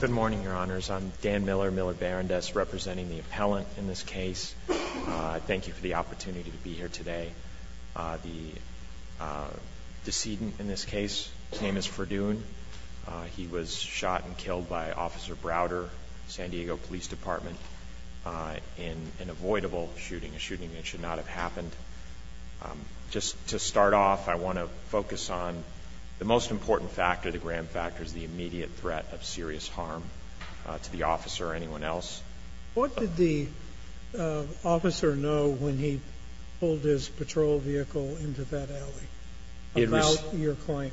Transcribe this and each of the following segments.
Good morning, Your Honors. I'm Dan Miller, Miller-Barrandess, representing the appellant in this case. I thank you for the opportunity to be here today. The decedent in this case came as Ferdoon. He was shot and killed by Officer Browder, San Diego Police Department, in an avoidable shooting, a shooting that should not have happened. Just to start off, I want to focus on the most important factor, the grand factor, is the immediate threat of serious harm to the officer or anyone else. What did the officer know when he pulled his patrol vehicle into that alley about your claim?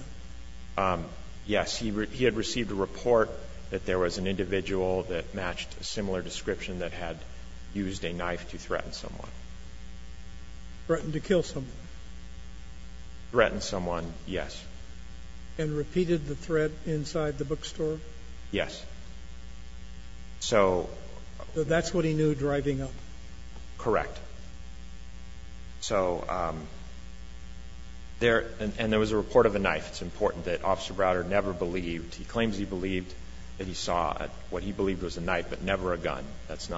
Yes, he had received a report that there was an individual that matched a similar description that had used a knife to threaten someone. Threatened to kill someone? Threatened someone, yes. And repeated the threat inside the bookstore? Yes. So that's what he knew driving up? Correct. So there was a report of a knife. It's important that Officer Browder never believed. He claims he believed that he saw what he believed was a knife, but never a knife.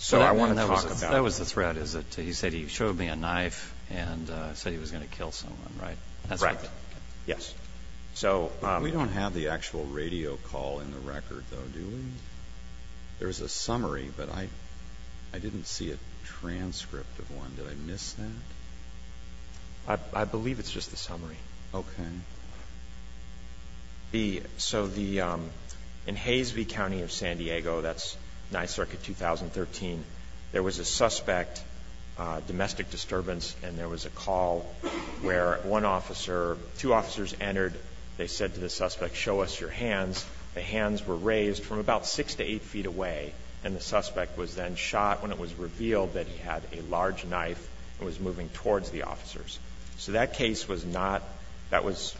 So I want to talk about it. That was the threat, is it? He said he showed me a knife and said he was going to kill someone, right? That's correct. Yes. So we don't have the actual radio call in the record, though, do we? There's a summary, but I didn't see a transcript of one. Did I miss that? I believe it's just the summary. Okay. So in Hays v. County of San Diego, that's 9th Circuit, 2013, there was a suspect, domestic disturbance, and there was a call where one officer, two officers entered. They said to the suspect, show us your hands. The hands were raised from about 6 to 8 feet away, and the suspect was then shot when it was revealed that he had a large knife and was moving towards the officers. So that case was not – that was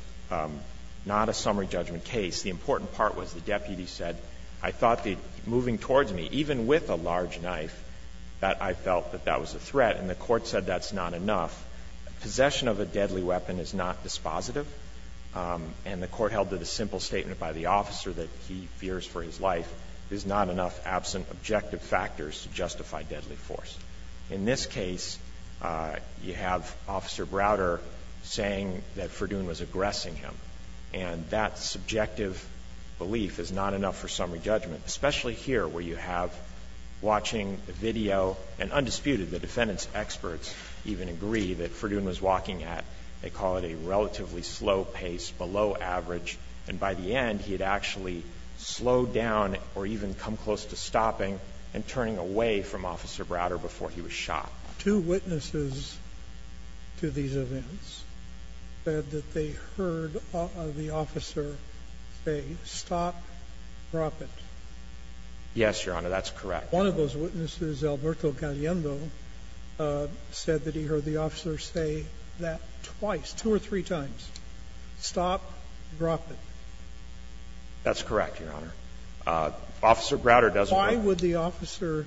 not a summary judgment case. The important part was the deputy said, I thought that moving towards me, even with a large knife, that I felt that that was a threat, and the court said that's not enough. Possession of a deadly weapon is not dispositive, and the court held that a simple statement by the officer that he fears for his life is not enough absent objective factors to justify deadly force. In this case, you have Officer Browder saying that Ferdoon was aggressing him, and that subjective belief is not enough for summary judgment, especially here where you have watching the video, and undisputed, the defendant's experts even agree that Ferdoon was walking at, they call it a relatively slow pace, below average, and by the end, he had actually slowed down or even come close to stopping and turning away from Officer Browder before he was shot. Two witnesses to these events said that they heard the officer say, stop, drop it. Yes, Your Honor, that's correct. One of those witnesses, Alberto Galiendo, said that he heard the officer say that twice, two or three times, stop, drop it. That's correct, Your Honor. Officer Browder does – Why would the officer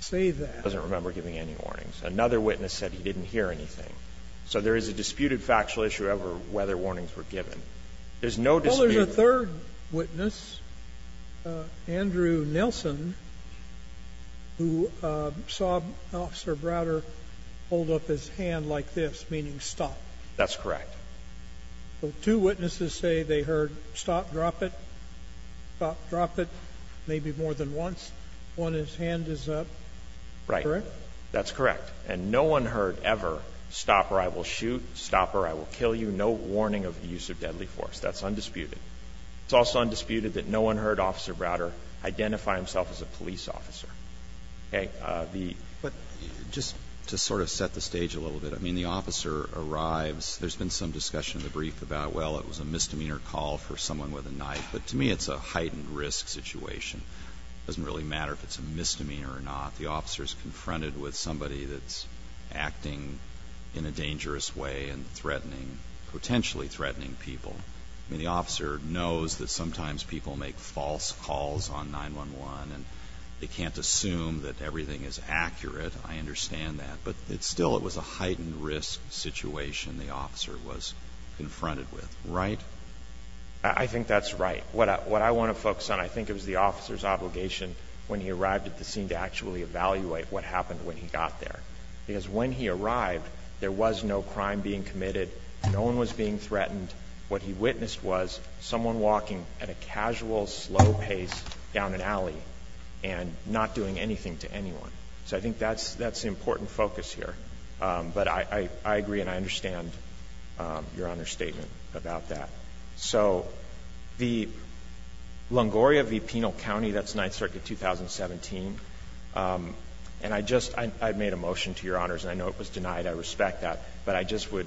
say that? He doesn't remember giving any warnings. Another witness said he didn't hear anything. So there is a disputed factual issue over whether warnings were given. There's no dispute. Well, there's a third witness, Andrew Nelson, who saw Officer Browder hold up his hand like this, meaning stop. That's correct. So two witnesses say they heard, stop, drop it, stop, drop it, maybe more than once. When his hand is up, correct? Right. That's correct. And no one heard ever, stop or I will shoot, stop or I will kill you, no warning of the use of deadly force. That's undisputed. It's also undisputed that no one heard Officer Browder identify himself as a police officer. Okay. The – But just to sort of set the stage a little bit, I mean, the officer arrives. There's been some discussion in the brief about, well, it was a misdemeanor call for someone with a knife. But to me, it's a heightened risk situation. It doesn't really matter if it's a misdemeanor or not. The officer is confronted with somebody that's acting in a dangerous way and threatening, potentially threatening people. I mean, the officer knows that sometimes people make false calls on 911 and they can't assume that everything is accurate. I understand that. But still, it was a heightened risk situation the officer was confronted with. Right? I think that's right. What I want to focus on, I think it was the officer's obligation when he arrived at the scene to actually evaluate what happened when he got there. Because when he arrived, there was no crime being committed, no one was being threatened. What he witnessed was someone walking at a casual, slow pace down an alley and not doing anything to anyone. So I think that's the important focus here. But I agree and I understand Your Honor's statement about that. So the Longoria v. Penal County, that's Ninth Circuit 2017. And I just – I made a motion to Your Honors, and I know it was denied. I respect that. But I just would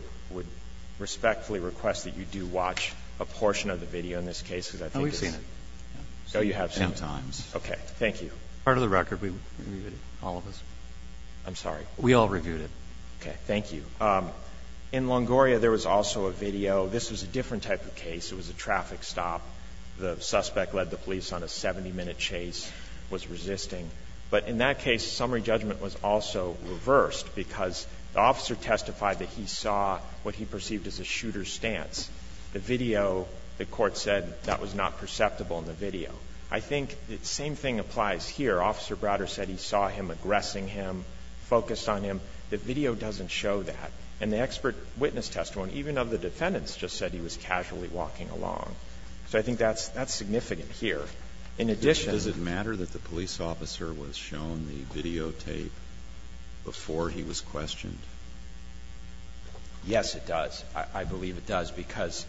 respectfully request that you do watch a portion of the video in this case, because I think it's – Oh, we've seen it. Oh, you have seen it. Sometimes. Okay. Thank you. Part of the record, we reviewed it, all of us. I'm sorry. We all reviewed it. Okay. Thank you. In Longoria, there was also a video. This was a different type of case. It was a traffic stop. The suspect led the police on a 70-minute chase, was resisting. But in that case, summary judgment was also reversed, because the officer testified that he saw what he perceived as a shooter's stance. The video, the court said that was not perceptible in the video. I think the same thing applies here. Officer Browder said he saw him aggressing him, focused on him. The video doesn't show that. And the expert witness testimony, even of the defendants, just said he was casually walking along. So I think that's significant here. In addition to that, the police officer was shown the videotape before he was questioned. Yes, it does. I believe it does, because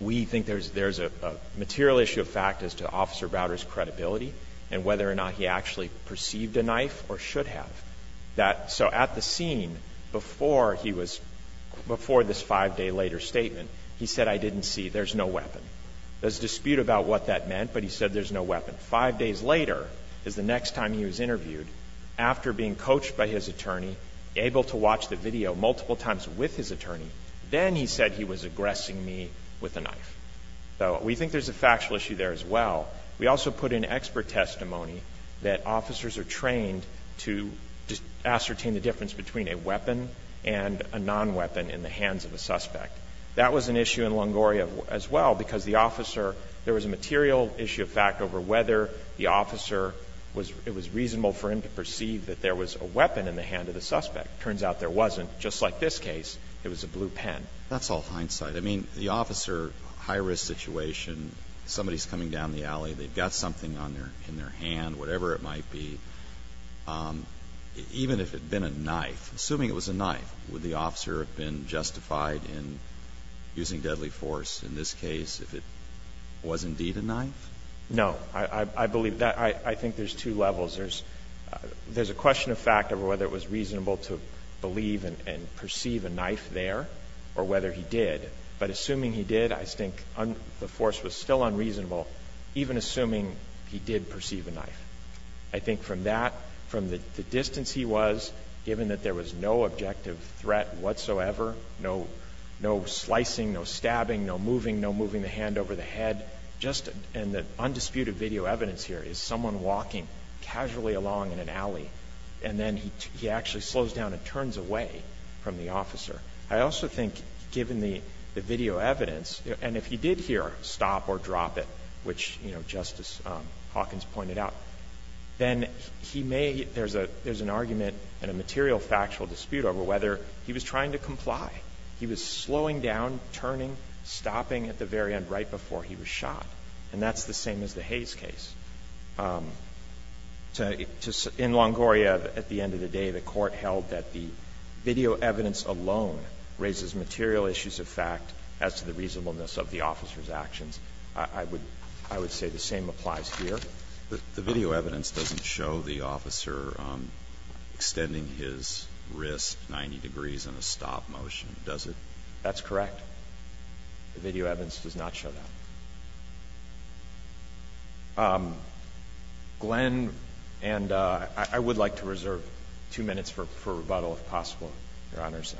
we think there's a material issue of fact as to Officer Browder's credibility and whether or not he actually perceived a knife or should have. So at the scene, before this five-day-later statement, he said, I didn't see. There's no weapon. There's dispute about what that meant, but he said there's no weapon. Five days later is the next time he was interviewed. After being coached by his attorney, able to watch the video multiple times with his attorney, then he said he was aggressing me with a knife. So we think there's a factual issue there as well. We also put in expert testimony that officers are trained to ascertain the difference between a weapon and a non-weapon in the hands of a suspect. That was an issue in Longoria as well, because the officer – there was a material issue of fact over whether the officer was – it was reasonable for him to perceive that there was a weapon in the hand of the suspect. Turns out there wasn't. Just like this case, it was a blue pen. That's all hindsight. I mean, the officer, high-risk situation, somebody's coming down the alley. They've got something on their – in their hand, whatever it might be. Even if it had been a knife, assuming it was a knife, would the officer have been justified in using deadly force in this case if it was indeed a knife? No. I believe that – I think there's two levels. There's a question of fact over whether it was reasonable to believe and perceive a knife there or whether he did. But assuming he did, I think the force was still unreasonable, even assuming he did perceive a knife. I think from that – from the distance he was, given that there was no objective threat whatsoever, no slicing, no stabbing, no moving, no moving the hand over the head, just – and the undisputed video evidence here is someone walking casually along in an alley, and then he actually slows down and turns away from the officer. I also think, given the video evidence, and if he did hear, stop or drop it, which Justice Hawkins pointed out, then he may – there's an argument and a material factual dispute over whether he was trying to comply. He was slowing down, turning, stopping at the very end right before he was shot. And that's the same as the Hayes case. In Longoria, at the end of the day, the Court held that the video evidence alone raises material issues of fact as to the reasonableness of the officer's actions. I would say the same applies here. The video evidence doesn't show the officer extending his wrist 90 degrees in a stop motion, does it? That's correct. The video evidence does not show that. Glenn – and I would like to reserve 2 minutes for rebuttal, if possible, Your Honors.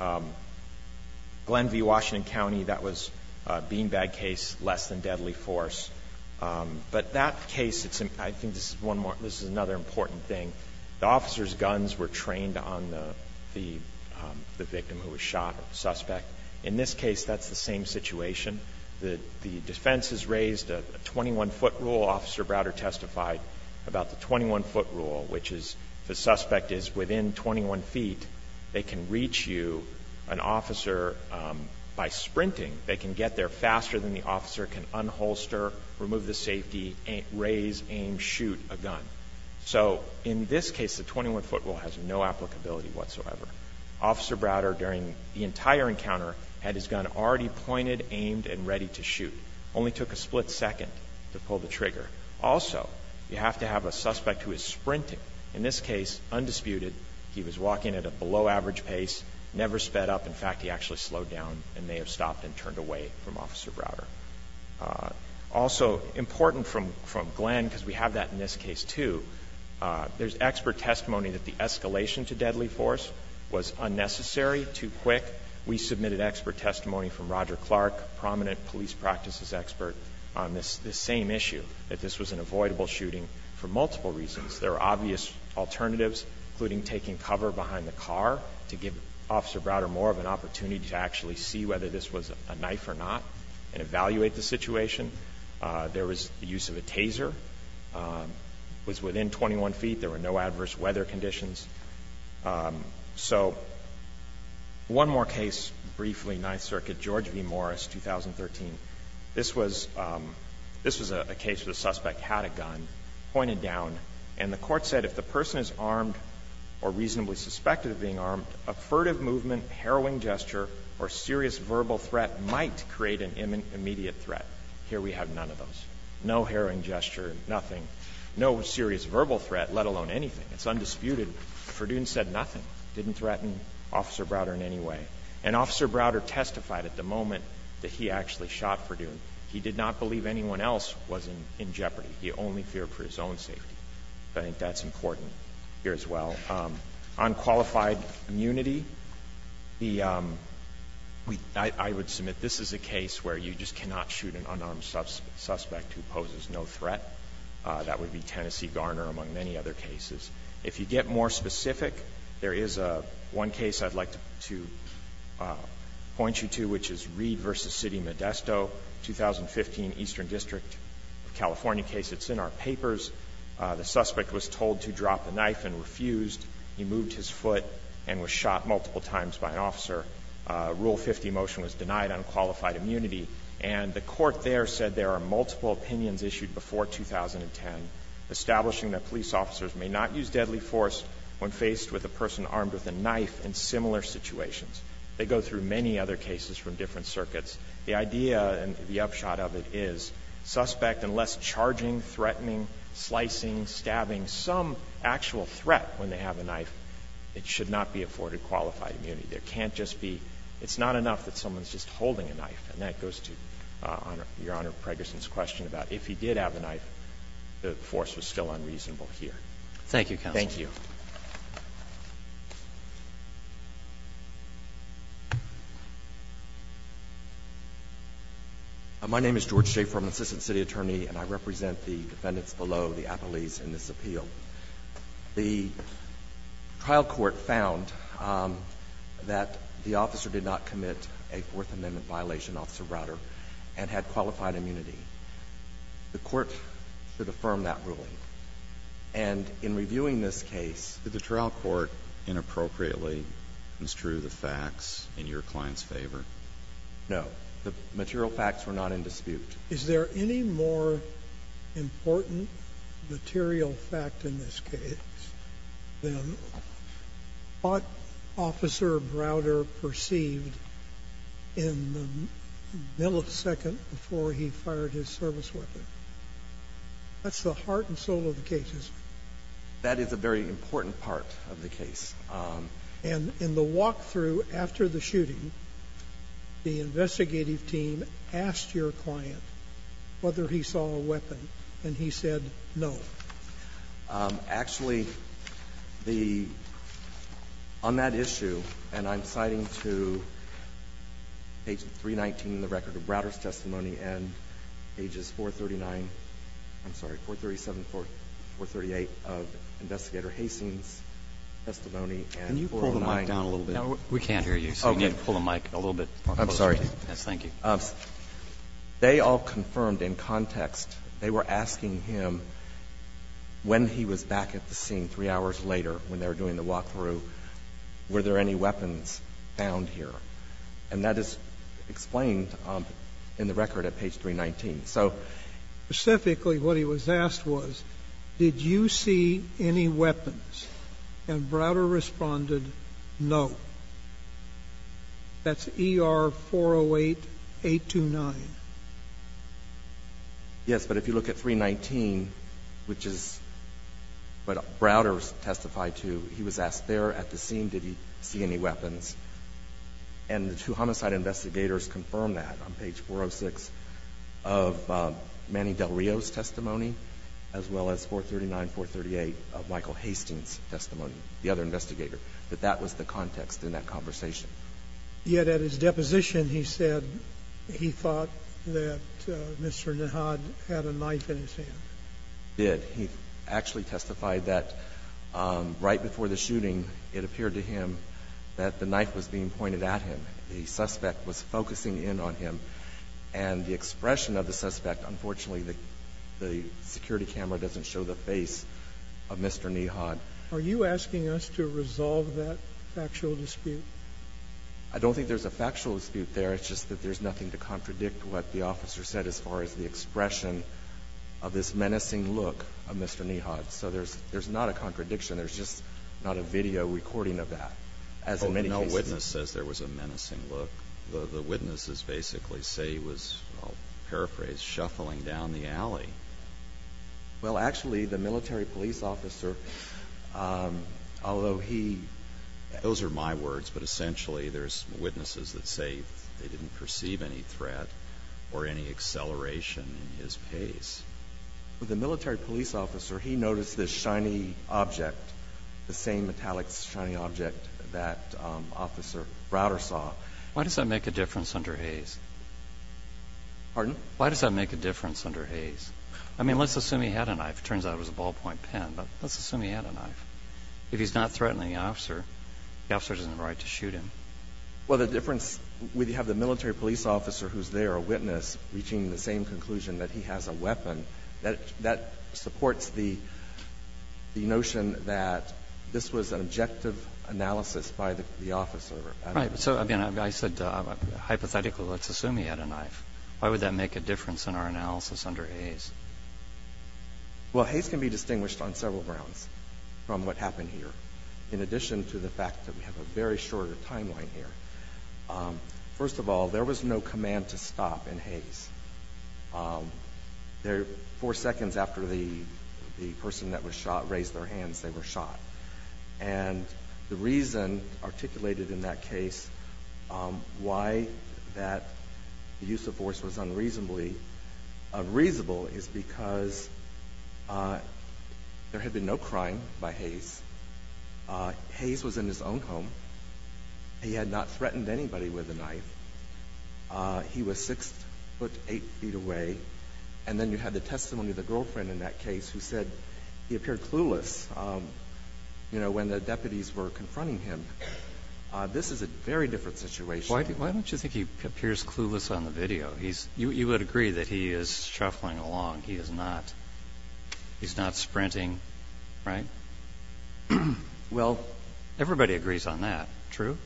Glenn v. Washington County, that was a beanbag case, less than deadly force. But that case, it's – I think this is one more – this is another important thing. The officer's guns were trained on the victim who was shot, the suspect. In this case, that's the same situation. The defense has raised a 21-foot rule. Officer Browder testified about the 21-foot rule, which is if the suspect is within 21 feet, they can reach you, an officer, by sprinting. They can get there faster than the officer, can unholster, remove the safety, raise, aim, shoot a gun. So in this case, the 21-foot rule has no applicability whatsoever. Officer Browder, during the entire encounter, had his gun already pointed, aimed, and ready to shoot. Only took a split second to pull the trigger. Also, you have to have a suspect who is sprinting. In this case, undisputed, he was walking at a below-average pace, never sped up. In fact, he actually slowed down and may have stopped and turned away from Officer Browder. Also, important from Glenn, because we have that in this case, too, there's expert testimony that the escalation to deadly force was unnecessary, too quick. We submitted expert testimony from Roger Clark, prominent police practices expert, on this same issue, that this was an avoidable shooting for multiple reasons. There are obvious alternatives, including taking cover behind the car to give Officer Browder more of an opportunity to actually see whether this was a knife or not, and evaluate the situation. There was the use of a taser, was within 21 feet. There were no adverse weather conditions. So one more case, briefly, Ninth Circuit, George v. Morris, 2013. This was a case where the suspect had a gun, pointed down, and the court said if the person is armed or reasonably suspected of being armed, a furtive movement, harrowing gesture, or serious verbal threat might create an immediate threat. Here we have none of those. No harrowing gesture, nothing. No serious verbal threat, let alone anything. It's undisputed. Ferdoon said nothing. Didn't threaten Officer Browder in any way. And Officer Browder testified at the moment that he actually shot Ferdoon. He did not believe anyone else was in jeopardy. He only feared for his own safety. I think that's important here as well. On qualified immunity, I would submit this is a case where you just cannot shoot an unarmed suspect who poses no threat. That would be Tennessee Garner, among many other cases. If you get more specific, there is one case I'd like to point you to, which is Reed v. City Modesto, 2015 Eastern District of California case. It's in our papers. The suspect was told to drop the knife and refused. He moved his foot and was shot multiple times by an officer. Rule 50 motion was denied on qualified immunity. And the court there said there are multiple opinions issued before 2010 establishing that police officers may not use deadly force when faced with a person armed with a knife in similar situations. They go through many other cases from different circuits. The idea and the upshot of it is suspect, unless charging, threatening, slicing, stabbing, some actual threat when they have a knife, it should not be afforded qualified immunity. There can't just be – it's not enough that someone's just holding a knife, and that goes to Your Honor Pregerson's question about if he did have a knife, the force was still unreasonable here. Thank you, counsel. Thank you. My name is George Schafer. I'm an assistant city attorney, and I represent the defendants below, the appellees in this appeal. The trial court found that the officer did not commit a Fourth Amendment violation. Officer Browder, and had qualified immunity. The court should affirm that ruling. And in reviewing this case – Did the trial court inappropriately construe the facts in your client's favor? No. The material facts were not in dispute. Is there any more important material fact in this case than what Officer Browder perceived in the millisecond before he fired his service weapon? That's the heart and soul of the case, isn't it? That is a very important part of the case. And in the walk-through after the shooting, the investigative team asked your client whether he saw a weapon, and he said no. Actually, the – on that issue, and I'm citing to page 319 in the record of Browder's testimony and pages 439 – I'm sorry, 437, 438 of Investigator Hastings' testimony and 409 – Can you pull the mic down a little bit? We can't hear you, so you need to pull the mic a little bit closer. I'm sorry. Yes, thank you. They all confirmed in context, they were asking him when he was back at the scene 3 hours later when they were doing the walk-through, were there any weapons found here, and that is explained in the record at page 319. So specifically what he was asked was, did you see any weapons? And Browder responded no. That's ER-408-829. Yes, but if you look at 319, which is what Browder testified to, he was asked there at the scene, did he see any weapons? And the two homicide investigators confirmed that on page 406 of Manny Del Rio's testimony, as well as 439, 438 of Michael Hastings' testimony, the other investigator, that that was the context in that conversation. Yet at his deposition, he said he thought that Mr. Nihad had a knife in his hand. He did. He actually testified that right before the shooting, it appeared to him that the knife was being pointed at him. The suspect was focusing in on him, and the expression of the suspect, unfortunately, the security camera doesn't show the face of Mr. Nihad. Are you asking us to resolve that factual dispute? I don't think there's a factual dispute there. It's just that there's nothing to contradict what the officer said as far as the expression of this menacing look of Mr. Nihad. So there's not a contradiction. There's just not a video recording of that. As in many cases. But no witness says there was a menacing look. The witnesses basically say he was, I'll paraphrase, shuffling down the alley. Well, actually, the military police officer, although he, those are my words, but essentially there's witnesses that say they didn't perceive any threat or any acceleration in his pace. The military police officer, he noticed this shiny object, the same metallic shiny object that Officer Browder saw. Why does that make a difference under Hayes? Pardon? Why does that make a difference under Hayes? I mean, let's assume he had a knife. It turns out it was a ballpoint pen. But let's assume he had a knife. If he's not threatening the officer, the officer doesn't have a right to shoot him. Well, the difference, we have the military police officer who's there, a witness, reaching the same conclusion that he has a weapon. That supports the notion that this was an objective analysis by the officer. Right. So, I mean, I said hypothetically, let's assume he had a knife. Why would that make a difference in our analysis under Hayes? Well, Hayes can be distinguished on several grounds from what happened here, in addition to the fact that we have a very short timeline here. First of all, there was no command to stop in Hayes. Four seconds after the person that was shot raised their hands, they were shot. And the reason articulated in that case why that use of force was unreasonably reasonable is because there had been no crime by Hayes. Hayes was in his own home. He had not threatened anybody with a knife. He was six foot eight feet away. And then you had the testimony of the girlfriend in that case who said he appeared clueless, you know, when the deputies were confronting him. This is a very different situation. Why don't you think he appears clueless on the video? You would agree that he is shuffling along. He is not sprinting. Right? Well, everybody agrees on that. True?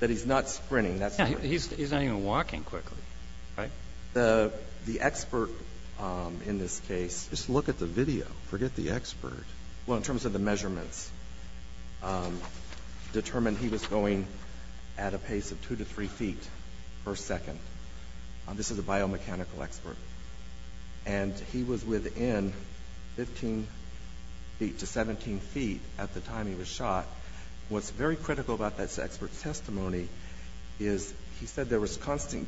That he's not sprinting. That's true. He's not even walking quickly. Right? The expert in this case. Just look at the video. Forget the expert. Well, in terms of the measurements, determined he was going at a pace of two to three feet per second. This is a biomechanical expert. And he was within 15 feet to 17 feet at the time he was shot. What's very critical about this expert's testimony is he said there was constant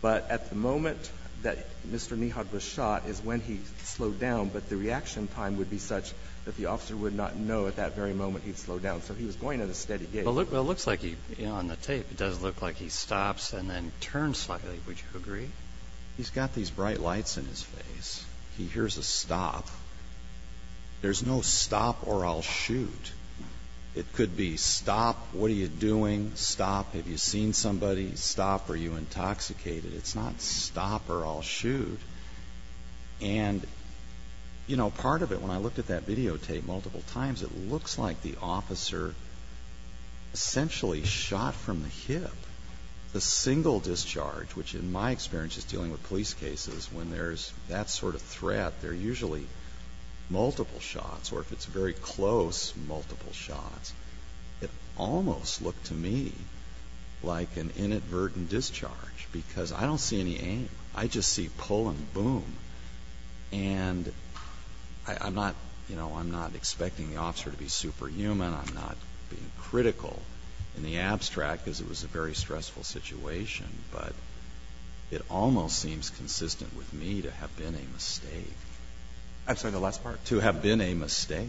But at the moment that Mr. Neha was shot is when he slowed down. But the reaction time would be such that the officer would not know at that very moment he'd slowed down. So he was going at a steady pace. Well, it looks like he, you know, on the tape, it does look like he stops and then turns slightly. Would you agree? He's got these bright lights in his face. He hears a stop. There's no stop or I'll shoot. It could be stop. What are you doing? Stop. Have you seen somebody? Stop. Are you intoxicated? It's not stop or I'll shoot. And, you know, part of it, when I looked at that videotape multiple times, it looks like the officer essentially shot from the hip. The single discharge, which in my experience is dealing with police cases, when there's that sort of threat, they're usually multiple shots. Or if it's very close, multiple shots. It almost looked to me like an inadvertent discharge because I don't see any aim. I just see pull and boom. And I'm not, you know, I'm not expecting the officer to be superhuman. I'm not being critical in the abstract because it was a very stressful situation. But it almost seems consistent with me to have been a mistake. I'm sorry, the last part. To have been a mistake.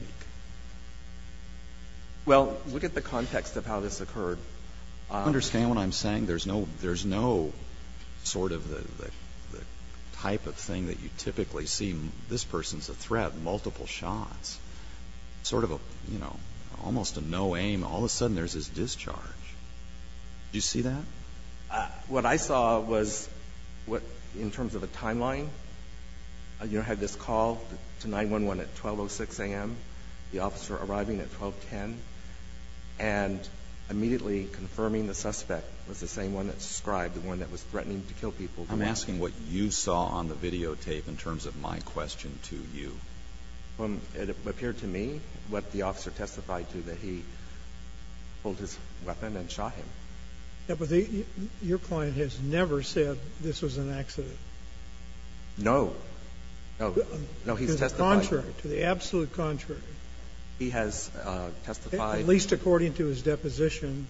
Well, look at the context of how this occurred. Understand what I'm saying. There's no sort of the type of thing that you typically see. This person's a threat. Multiple shots. Sort of a, you know, almost a no aim. All of a sudden there's this discharge. Do you see that? What I saw was what, in terms of a timeline, you know, had this call to 911 at 12.06 a.m., the officer arriving at 12.10, and immediately confirming the suspect was the same one that's described, the one that was threatening to kill people. I'm asking what you saw on the videotape in terms of my question to you. It appeared to me what the officer testified to, that he pulled his weapon and shot him. Your client has never said this was an accident. No. No. No, he's testified. To the contrary. To the absolute contrary. He has testified. At least according to his deposition.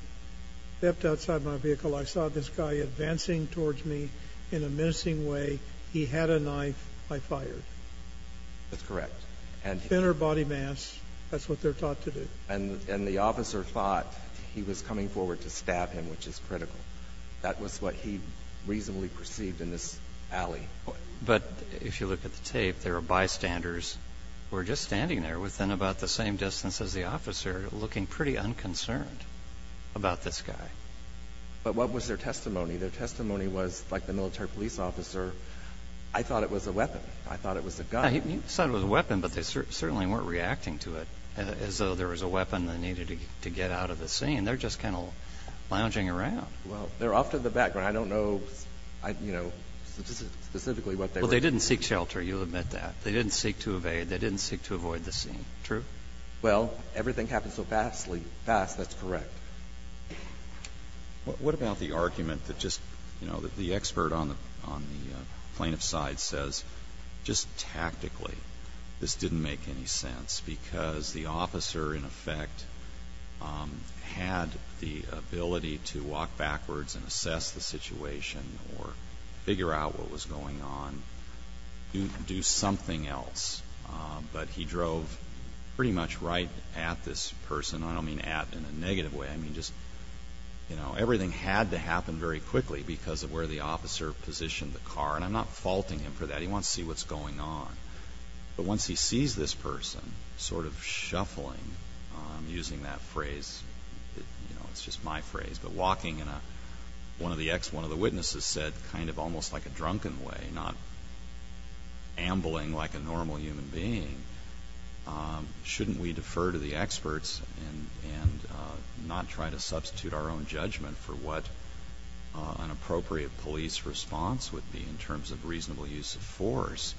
Stepped outside my vehicle. I saw this guy advancing towards me in a menacing way. He had a knife. I fired. That's correct. Thinner body mass. That's what they're taught to do. And the officer thought he was coming forward to stab him, which is critical. That was what he reasonably perceived in this alley. But if you look at the tape, there are bystanders who are just standing there within about the same distance as the officer, looking pretty unconcerned about this guy. But what was their testimony? Their testimony was, like the military police officer, I thought it was a weapon. I thought it was a gun. You thought it was a weapon, but they certainly weren't reacting to it as though there was a weapon they needed to get out of the scene. They're just kind of lounging around. Well, they're off to the background. I don't know, you know, specifically what they were seeking. Well, they didn't seek shelter. You'll admit that. They didn't seek to evade. They didn't seek to avoid the scene. True? Well, everything happened so fastly. Fast, that's correct. What about the argument that just, you know, the expert on the plaintiff's side says, just tactically, this didn't make any sense, because the officer in effect had the ability to walk backwards and assess the situation or figure out what was going on, do something else. But he drove pretty much right at this person. I don't mean at in a negative way. I mean just, you know, everything had to happen very quickly because of where the officer positioned the car. And I'm not faulting him for that. He wants to see what's going on. But once he sees this person sort of shuffling, using that phrase, you know, it's just my phrase, but walking in a, one of the witnesses said, kind of almost like a drunken way, not ambling like a normal human being, shouldn't we defer to the experts and not try to substitute our own judgment for what an appropriate police response would be in terms of reasonable use of force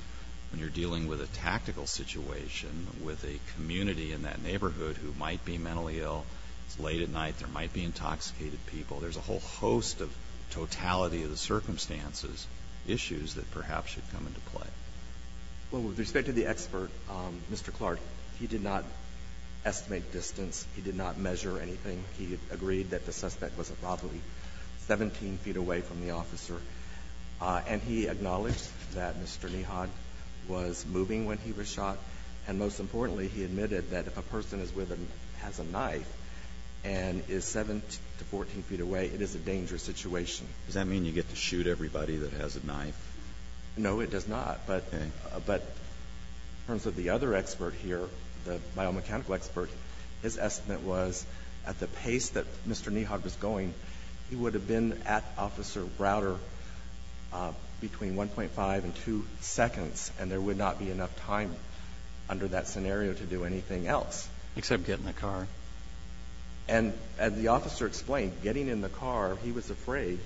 when you're dealing with a tactical situation with a community in that neighborhood who might be mentally ill. It's late at night. There might be intoxicated people. There's a whole host of totality of the circumstances, issues that perhaps should come into play. Well, with respect to the expert, Mr. Clark, he did not estimate distance. He did not measure anything. He agreed that the suspect was probably 17 feet away from the officer. And he acknowledged that Mr. Nehaud was moving when he was shot. And most importantly, he admitted that if a person is with a, has a knife and is 7 to 14 feet away, it is a dangerous situation. Does that mean you get to shoot everybody that has a knife? No, it does not. But in terms of the other expert here, the biomechanical expert, his estimate was at the pace that Mr. Nehaud was going, he would have been at Officer Browder between 1.5 and 2 seconds, and there would not be enough time under that scenario to do anything else. Except get in the car. And as the officer explained, getting in the car, he was afraid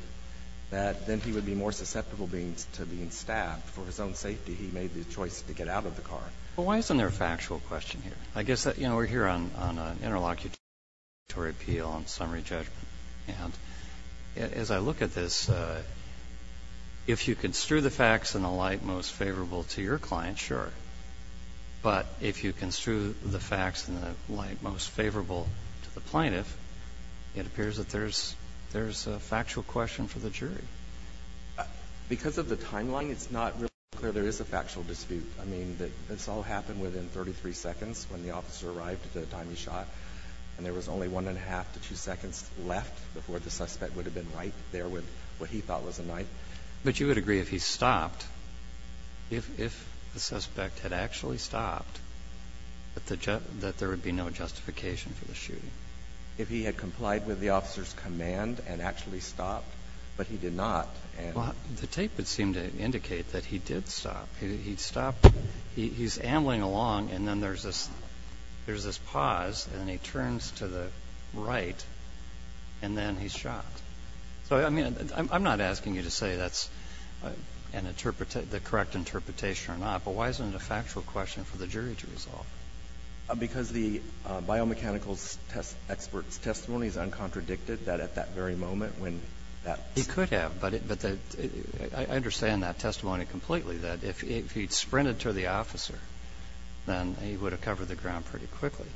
that then he would be more susceptible to being stabbed. For his own safety, he made the choice to get out of the car. Well, why isn't there a factual question here? I guess that, you know, we're here on an interlocutory appeal on summary judgment. And as I look at this, if you construe the facts in the light most favorable to your client, sure. But if you construe the facts in the light most favorable to the plaintiff, it appears that there's a factual question for the jury. Because of the timeline, it's not really clear there is a factual dispute. I mean, this all happened within 33 seconds when the officer arrived at the time he shot. And there was only 1.5 to 2 seconds left before the suspect would have been right there with what he thought was a knife. But you would agree if he stopped, if the suspect had actually stopped, that there would be no justification for the shooting? If he had complied with the officer's command and actually stopped, but he did not. Well, the tape would seem to indicate that he did stop. He stopped. He's ambling along, and then there's this pause, and then he turns to the right, and then he's shot. So, I mean, I'm not asking you to say that's an interpretation, the correct interpretation or not. But why isn't it a factual question for the jury to resolve? Because the biomechanical expert's testimony is uncontradicted, that at that very moment when that. He could have. But I understand that testimony completely, that if he'd sprinted to the officer, then he would have covered the ground pretty quickly.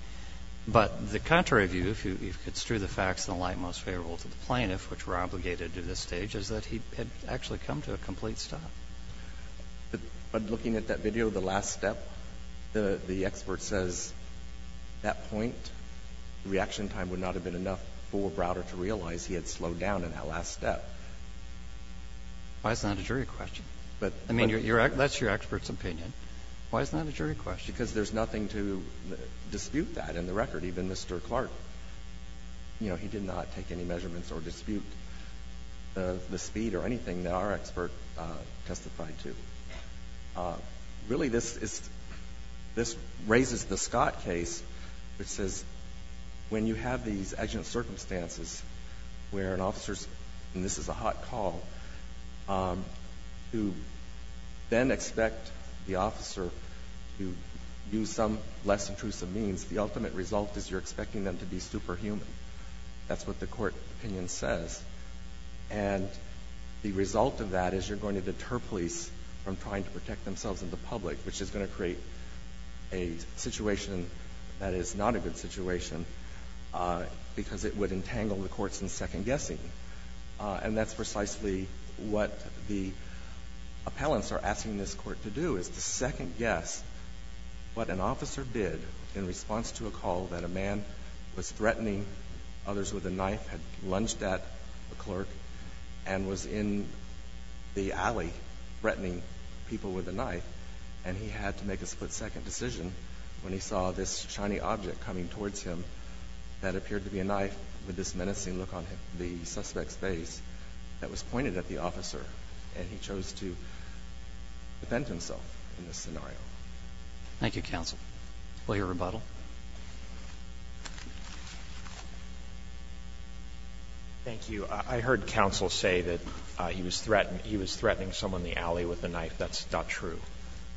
But the contrary view, if it's true, the facts in the light most favorable to the plaintiff, which we're obligated to this stage, is that he had actually come to a complete stop. But looking at that video, the last step, the expert says at that point the reaction time would not have been enough for Browder to realize he had slowed down in that last step. Why is that a jury question? I mean, that's your expert's opinion. Why is that a jury question? Because there's nothing to dispute that in the record. Even Mr. Clark, you know, he did not take any measurements or dispute the speed or anything that our expert testified to. Really, this raises the Scott case, which says when you have these accident circumstances where an officer's, and this is a hot call, who then expect the officer to use some less intrusive means, the ultimate result is you're expecting them to be superhuman. That's what the court opinion says. And the result of that is you're going to deter police from trying to protect themselves and the public, which is going to create a situation that is not a good situation because it would entangle the courts in second guessing. And that's precisely what the appellants are asking this Court to do, is to second guess what an officer did in response to a call that a man was threatening others with a knife, had lunged at a clerk, and was in the alley threatening people with a knife, and he had to make a split-second decision when he saw this shiny object coming towards him that appeared to be a knife with this menacing look on the suspect's face that was pointed at the officer, and he chose to defend himself in this scenario. Thank you, counsel. Will you rebuttal? Thank you. I heard counsel say that he was threatening someone in the alley with a knife. That's not true.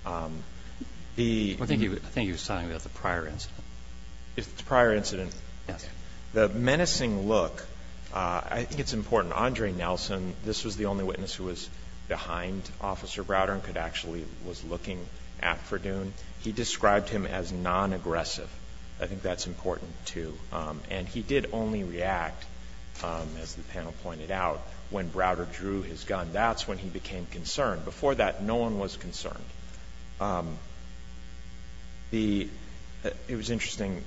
The ---- If it's a prior incident. Yes. The menacing look, I think it's important. Andre Nelson, this was the only witness who was behind Officer Browder and could actually was looking at Verdun. He described him as nonaggressive. I think that's important, too. And he did only react, as the panel pointed out, when Browder drew his gun. That's when he became concerned. Before that, no one was concerned. The ---- it was interesting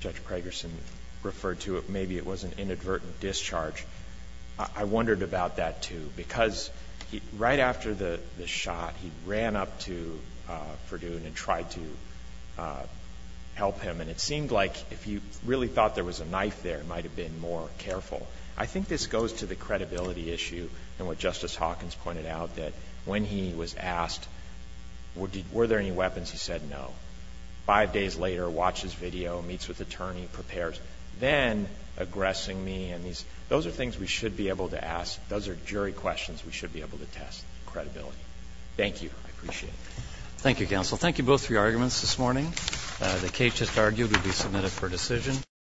Judge Pragerson referred to it. Maybe it was an inadvertent discharge. I wondered about that, too, because right after the shot, he ran up to Verdun and tried to help him. And it seemed like if he really thought there was a knife there, he might have been more careful. I think this goes to the credibility issue and what Justice Hawkins pointed out, that when he was asked, were there any weapons, he said no. Five days later, watches video, meets with attorney, prepares, then aggressing me. Those are things we should be able to ask. Those are jury questions we should be able to test credibility. Thank you. I appreciate it. Thank you, counsel. Thank you both for your arguments this morning. The case is argued to be submitted for decision.